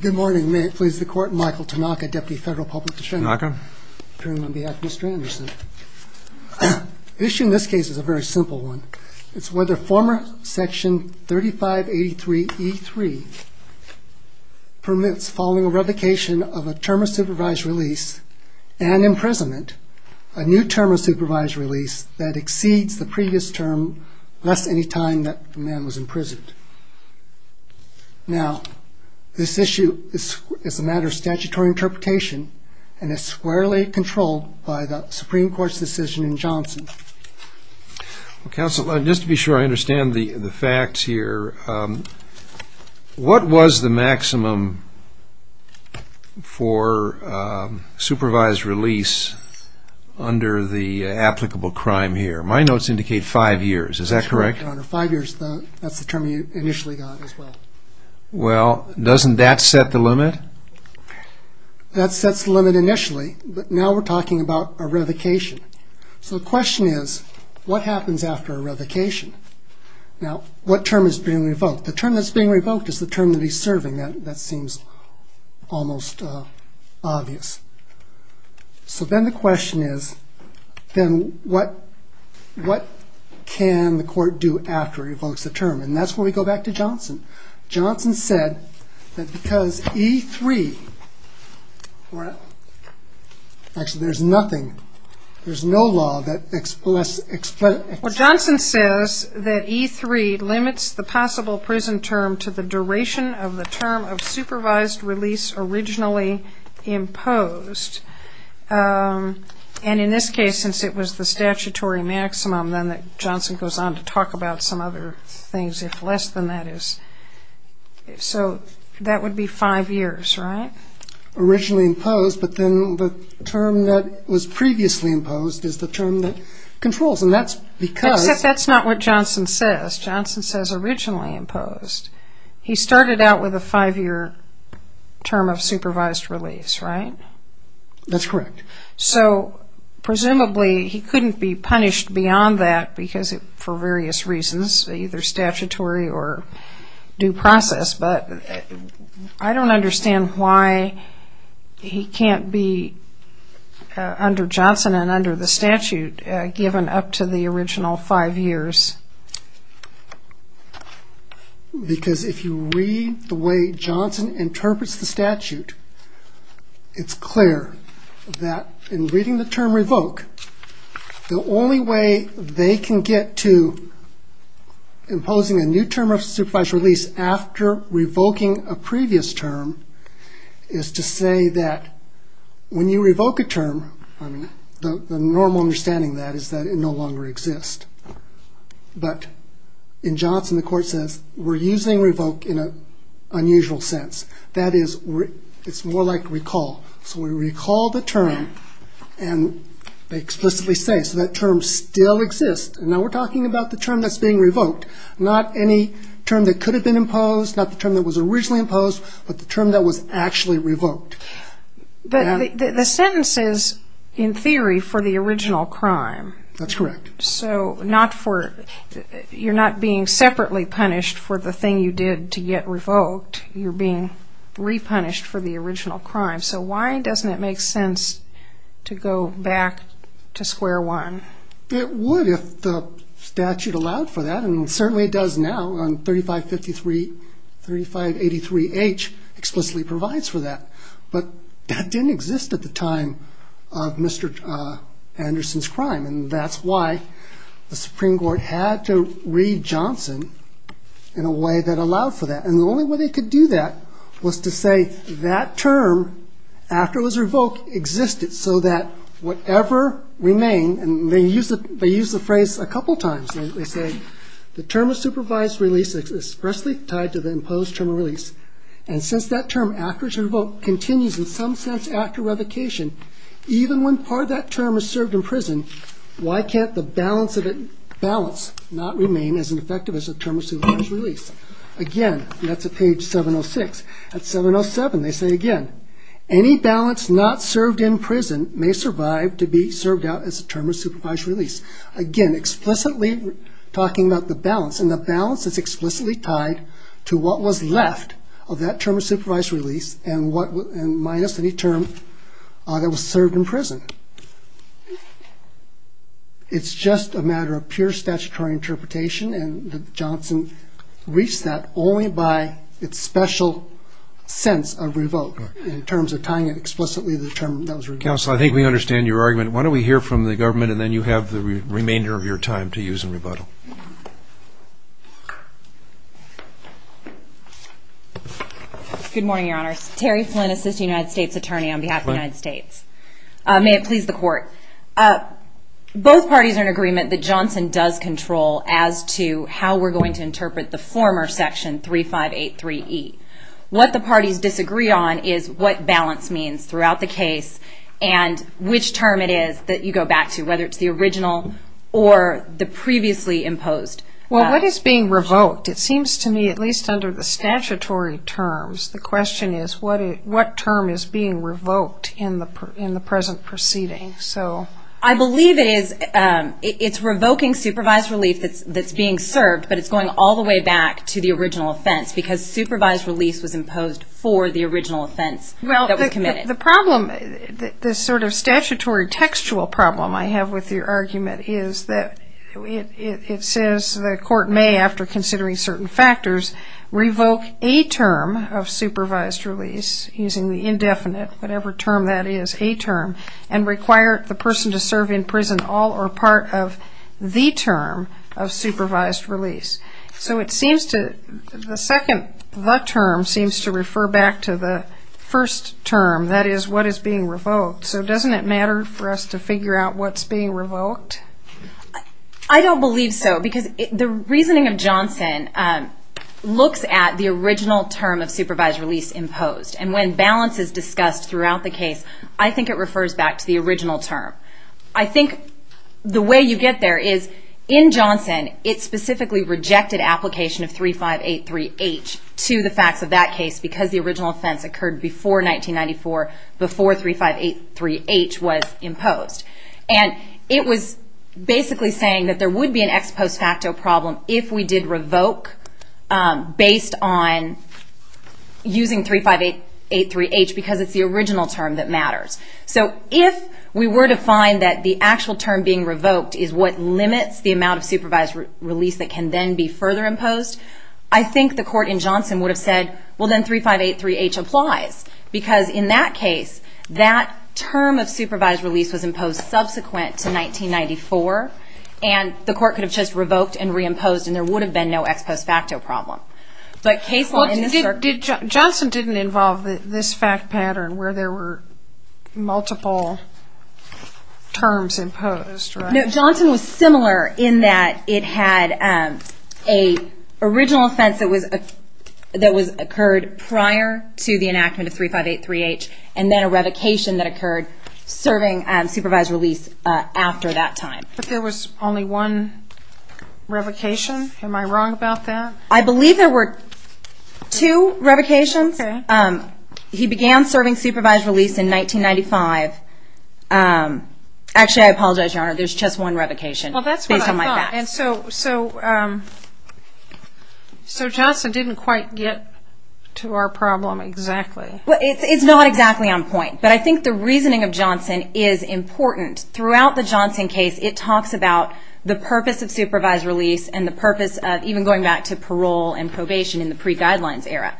Good morning. May it please the Court, Michael Tanaka, Deputy Federal Public Attorney. Tanaka. Appearing on behalf of Mr. Anderson. The issue in this case is a very simple one. It's whether former section 3583E3 permits following a revocation of a term of supervised release and imprisonment, a new term of supervised release that exceeds the previous term less any time that the man was imprisoned. Now, this issue is a matter of statutory interpretation and is squarely controlled by the Supreme Court's decision in Johnson. Counsel, just to be sure I understand the facts here, what was the correct? Well, doesn't that set the limit? That sets the limit initially, but now we're talking about a revocation. So the question is, what happens after a revocation? Now, what term is being revoked? The term that's being revoked is the term that he's serving. That seems almost obvious. So then the question is, then what can the court do after it revokes the term? And that's where we go back to Johnson. Johnson said that because E3, actually there's nothing, there's no law that explains. Well, Johnson says that E3 limits the possible prison term to the duration of the term of supervised release originally imposed. And in this case, since it was the statutory maximum, then Johnson goes on to talk about some other things, if less than that is. So that would be five years, right? Originally imposed, but then the term that was He started out with a five-year term of supervised release, right? That's correct. So presumably he couldn't be punished beyond that because for various reasons, either statutory or due process, but I don't understand why he can't be, under Johnson and under the statute, given up to the to read the way Johnson interprets the statute, it's clear that in reading the term revoke, the only way they can get to imposing a new term of supervised release after revoking a previous term is to say that when you revoke a term, the normal understanding of that is that it no longer exists. But in Johnson, the court says, we're using revoke in an unusual sense. That is, it's more like recall. So we recall the term and they explicitly say, so that term still exists. And now we're talking about the term that's being revoked, not any term that could have been imposed, not the term that was originally imposed, but the term that was actually revoked. But the sentence is, in theory, for the original crime. That's correct. So you're not being separately punished for the thing you did to get revoked, you're being repunished for the original crime. So why doesn't it make sense to go back to square one? It would if the statute allowed for that, and certainly it does now on 3583H explicitly provides for that. But that didn't exist at the time of Mr. Anderson's crime. And that's why the Supreme Court had to read Johnson in a way that allowed for that. And the only way they could do that was to say that term, after it was revoked, existed so that whatever remained, and they use the phrase a couple times, they say, the term of supervised release is expressly tied to the imposed term of release. And since that term after it's revoked continues in some sense after revocation, even when part of that term is served in prison, why can't the balance not remain as an effective as a term of supervised release? Again, that's at page 706. At 707 they say again, any balance not served in prison may survive to be served out as a term of supervised release. Again, explicitly talking about the balance, and the balance is explicitly tied to what was left of that term of supervised release and minus any term that was served in prison. It's just a matter of pure statutory interpretation, and Johnson reached that only by its remainder of your time to use in rebuttal. Good morning, Your Honors. Terry Flynn, Assistant United States Attorney on behalf of the United States. May it please the Court. Both parties are in agreement that Johnson does control as to how we're going to interpret the former section 3583E. What the parties disagree on is what balance means throughout the case, and which term it is that you go back to, whether it's the original or the previously imposed. Well, what is being revoked? It seems to me, at least under the statutory terms, the question is what term is being revoked in the present proceeding. I believe it's revoking supervised relief that's being served, but it's going all the way back to the original offense because supervised release was imposed for the original offense that was committed. The problem, the sort of statutory textual problem I have with your argument is that it says the Court may, after considering certain factors, revoke a term of supervised release, using the indefinite, whatever term that is, a term, and require the person to serve in prison all or part of the term of supervised release. So it seems to, the second the term seems to refer back to the first term, that is, what is being revoked. So doesn't it matter for us to figure out what's being revoked? I don't believe so because the reasoning of Johnson looks at the original term of supervised release imposed, and when balance is discussed throughout the 3583H to the facts of that case because the original offense occurred before 1994, before 3583H was imposed. And it was basically saying that there would be an ex post facto problem if we did revoke based on using 3583H because it's the original term that matters. So if we were to find that the actual term being further imposed, I think the Court in Johnson would have said, well then 3583H applies because in that case, that term of supervised release was imposed subsequent to 1994, and the Court could have just revoked and reimposed and there would have been no ex post facto problem. Johnson didn't involve this fact pattern where there were multiple terms imposed, right? No, Johnson was similar in that it had an original offense that occurred prior to the enactment of 3583H and then a revocation that occurred serving supervised release after that time. But there was only one revocation? Am I wrong about that? I believe there were two revocations. He began serving supervised release in 1995. Actually, I apologize, Your Honor, there's just one revocation. Well, that's what I thought. So Johnson didn't quite get to our problem exactly. Well, it's not exactly on point, but I think the reasoning of Johnson is important. Throughout the Johnson case, it talks about the purpose of supervised release and parole and probation in the pre-guidelines era.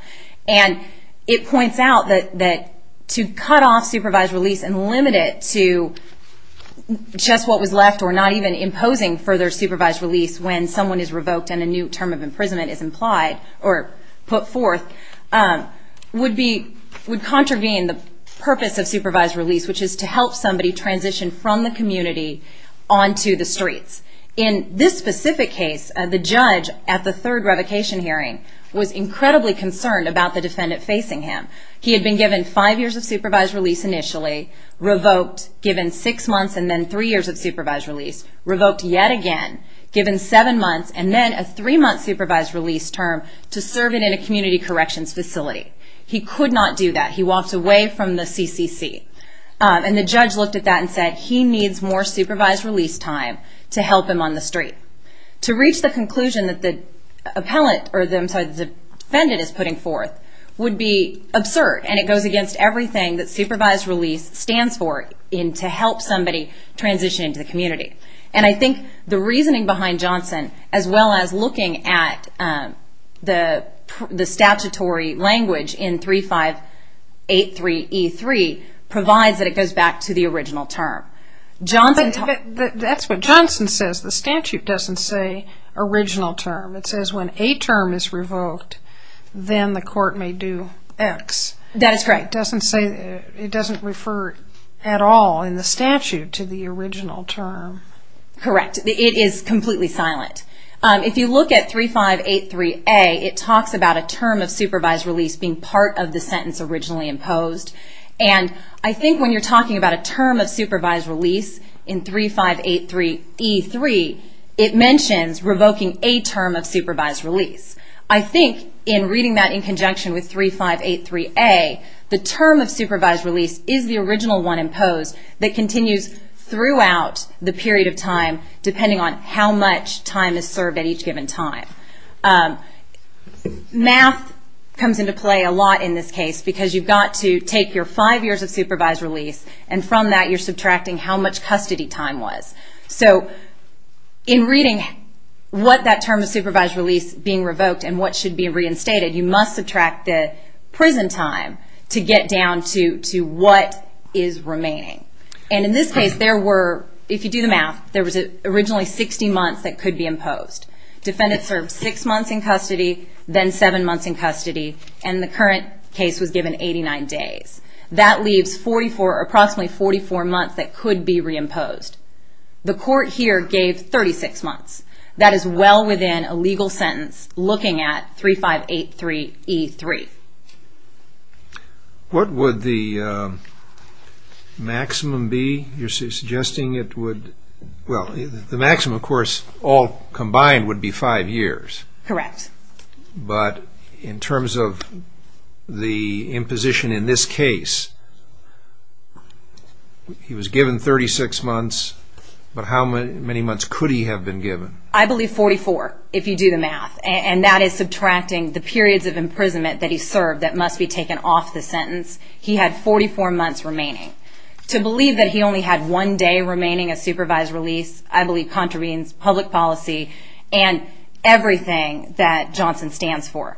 And it points out that to cut off supervised release and limit it to just what was left or not even imposing further supervised release when someone is revoked and a new term of imprisonment is implied or put forth would contravene the purpose of supervised release, which is to help somebody transition from the community onto the streets. In this specific case, the judge at the third revocation hearing was incredibly concerned about the defendant facing him. He had been given five years of supervised release initially, revoked, given six months and then three years of supervised release, revoked yet again, given seven months and then a three-month supervised release term to serve it in a community corrections facility. He could not do that. He walked away from the CCC. And the judge looked at that and said he needs more supervised release time to help him on the street. To reach the conclusion that the defendant is putting forth would be absurd and it goes against everything that supervised release stands for in to help somebody transition into the community. And I think the reasoning behind Johnson, as well as looking at the statutory language in 3583E3, provides that it goes back to the original term. That's what Johnson says. The statute doesn't say original term. It says when a term is revoked, then the court may do X. That is correct. But that doesn't say, it doesn't refer at all in the statute to the original term. Correct. It is completely silent. If you look at 3583A, it talks about a term of supervised release being part of the sentence originally imposed. And I think when you're talking about a term of supervised release in 3583E3, it mentions revoking a term of supervised release. I think in reading that in conjunction with 3583A, the term of supervised release is the original one imposed that continues throughout the period of time depending on how much time is served at each given time. Math comes into play a lot in this case because you've got to take your five years of supervised release and from that you're subtracting how much custody time was. So in reading what that term of supervised release being revoked and what should be reinstated, you must subtract the prison time to get down to what is remaining. And in this case, if you do the math, there was originally 60 months that could be imposed. Defendants served six months in custody, then seven months in custody, and the current case was given 89 days. That leaves approximately 44 months that could be reimposed. The court here gave 36 months. That is well within a legal sentence looking at 3583E3. What would the maximum be you're suggesting? Well, the maximum, of course, all combined would be five years. Correct. But in terms of the imposition in this case, he was given 36 months, but how many months could he have been given? I believe 44, if you do the math, and that is subtracting the periods of imprisonment that he served that must be taken off the sentence. He had 44 months remaining. To believe that he only had one day remaining of supervised release, I believe contravenes public policy and everything that Johnson stands for.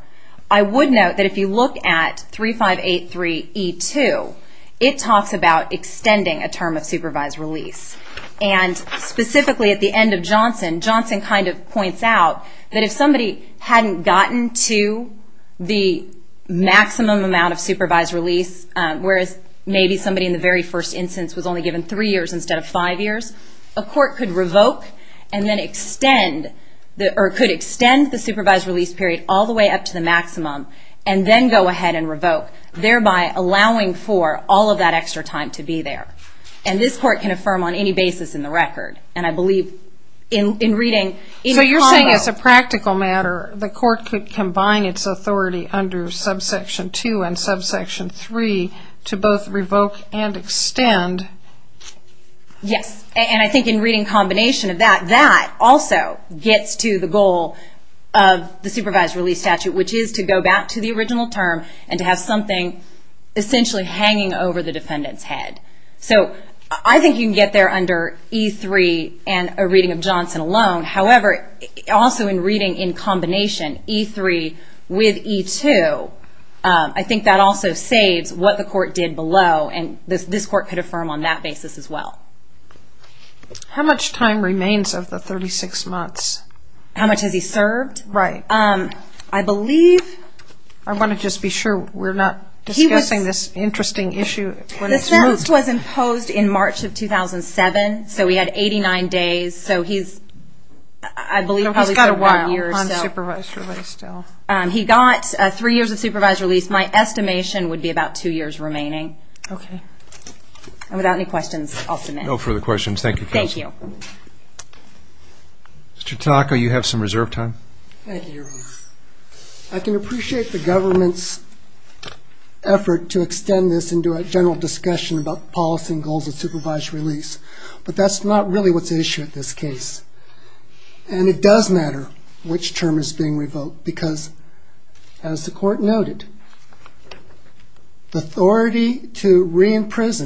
I would note that if you look at 3583E2, it talks about extending a term of supervised release. And specifically at the end of Johnson, Johnson kind of points out that if somebody hadn't gotten to the maximum amount of supervised release, whereas maybe somebody in the very first instance was only given three years instead of five years, a court could revoke and then extend the supervised release period all the way up to the maximum and then go ahead and revoke, thereby allowing for all of that extra time to be there. And this court can affirm on any basis in the record, and I believe in reading any convo. So you're saying as a practical matter, the court could combine its authority under subsection 2 and subsection 3 to both revoke and extend? Yes, and I think in reading combination of that, that also gets to the goal of the supervised release statute, which is to go back to the original term and to have something essentially hanging over the defendant's head. So I think you can get there under E3 and a reading of Johnson alone. However, also in reading in combination E3 with E2, I think that also saves what the court did below, and this court could affirm on that basis as well. How much time remains of the 36 months? How much has he served? Right. I believe... I want to just be sure we're not discussing this interesting issue when it's moved. The sentence was imposed in March of 2007, so he had 89 days. So he's, I believe, probably... He's got a while on supervised release still. He got three years of supervised release. My estimation would be about two years remaining. Okay. And without any questions, I'll submit. No further questions. Thank you, counsel. Thank you. Mr. Tanaka, you have some reserve time. Thank you, Your Honor. I can appreciate the government's effort to extend this into a general discussion about policy and goals of supervised release, but that's not really what's at issue at this case. And it does matter which term is being revoked because, as the court noted, the authority to reimpose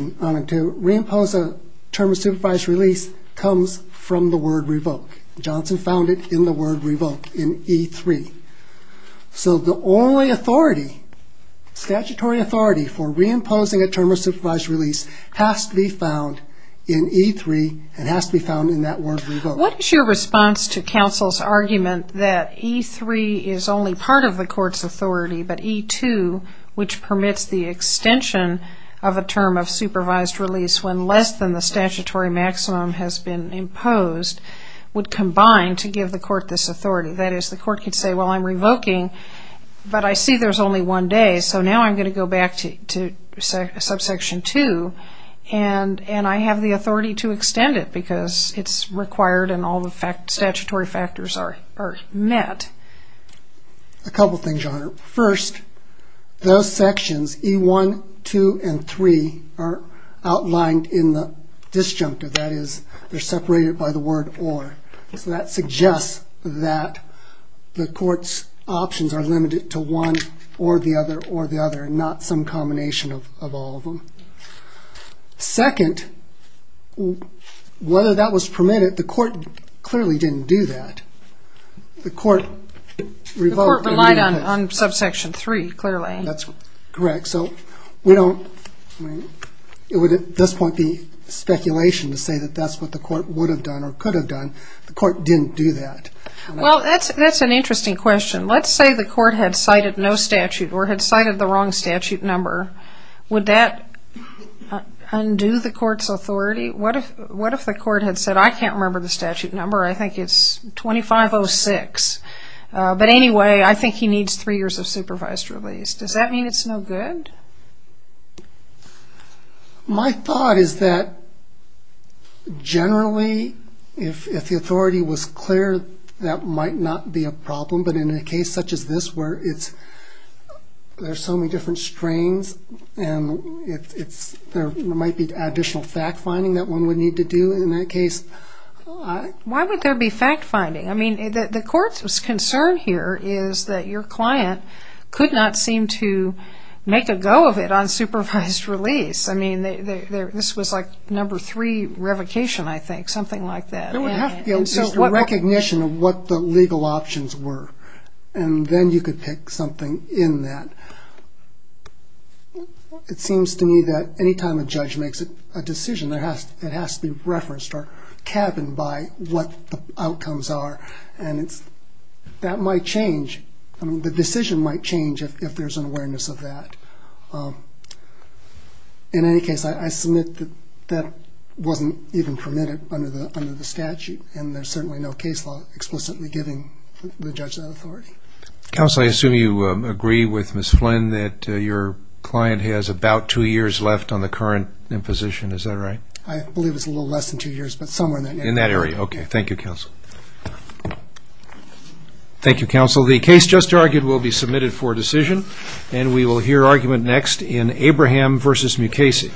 a term of supervised release comes from the word revoke. Johnson found it in the word revoke, in E3. So the only authority, statutory authority, for reimposing a term of supervised release has to be found in E3 and has to be found in that word revoke. What is your response to counsel's argument that E3 is only part of the court's authority, but E2, which permits the extension of a term of supervised release when less than the statutory maximum has been imposed, would combine to give the court this authority? That is, the court could say, well, I'm revoking, but I see there's only one day, so now I'm going to go back to subsection 2, and I have the authority to extend it because it's required and all the statutory factors are met. A couple things, Your Honor. First, those sections, E1, 2, and 3, are outlined in the disjunctive. That is, they're separated by the word or. So that suggests that the court's options are limited to one or the other or the other, not some combination of all of them. Second, whether that was permitted, the court clearly didn't do that. The court revoked E3. The court relied on subsection 3, clearly. That's correct. So we don't, I mean, it would at this point be speculation to say that that's what the court would have done or could have done. The court didn't do that. Well, that's an interesting question. Let's say the court had cited no statute or had cited the wrong statute number. Would that undo the court's authority? What if the court had said, I can't remember the statute number, I think it's 2506. But anyway, I think he needs three years of supervised release. Does that mean it's no good? My thought is that generally, if the authority was clear, that might not be a problem. But in a case such as this where there's so many different strains and there might be additional fact-finding that one would need to do in that case. Why would there be fact-finding? I mean, the court's concern here is that your client could not seem to make a go of it on supervised release. I mean, this was like number three revocation, I think, something like that. There would have to be a recognition of what the legal options were, and then you could pick something in that. It seems to me that any time a judge makes a decision, it has to be referenced or cabined by what the outcomes are. And that might change. The decision might change if there's an awareness of that. In any case, I submit that that wasn't even permitted under the statute, and there's certainly no case law explicitly giving the judge that authority. Counsel, I assume you agree with Ms. Flynn that your client has about two years left on the current imposition. Is that right? I believe it's a little less than two years, but somewhere in that area. In that area. Okay. Thank you, Counsel. Thank you, Counsel. The case just argued will be submitted for decision, and we will hear argument next in Abraham v. Mukasey.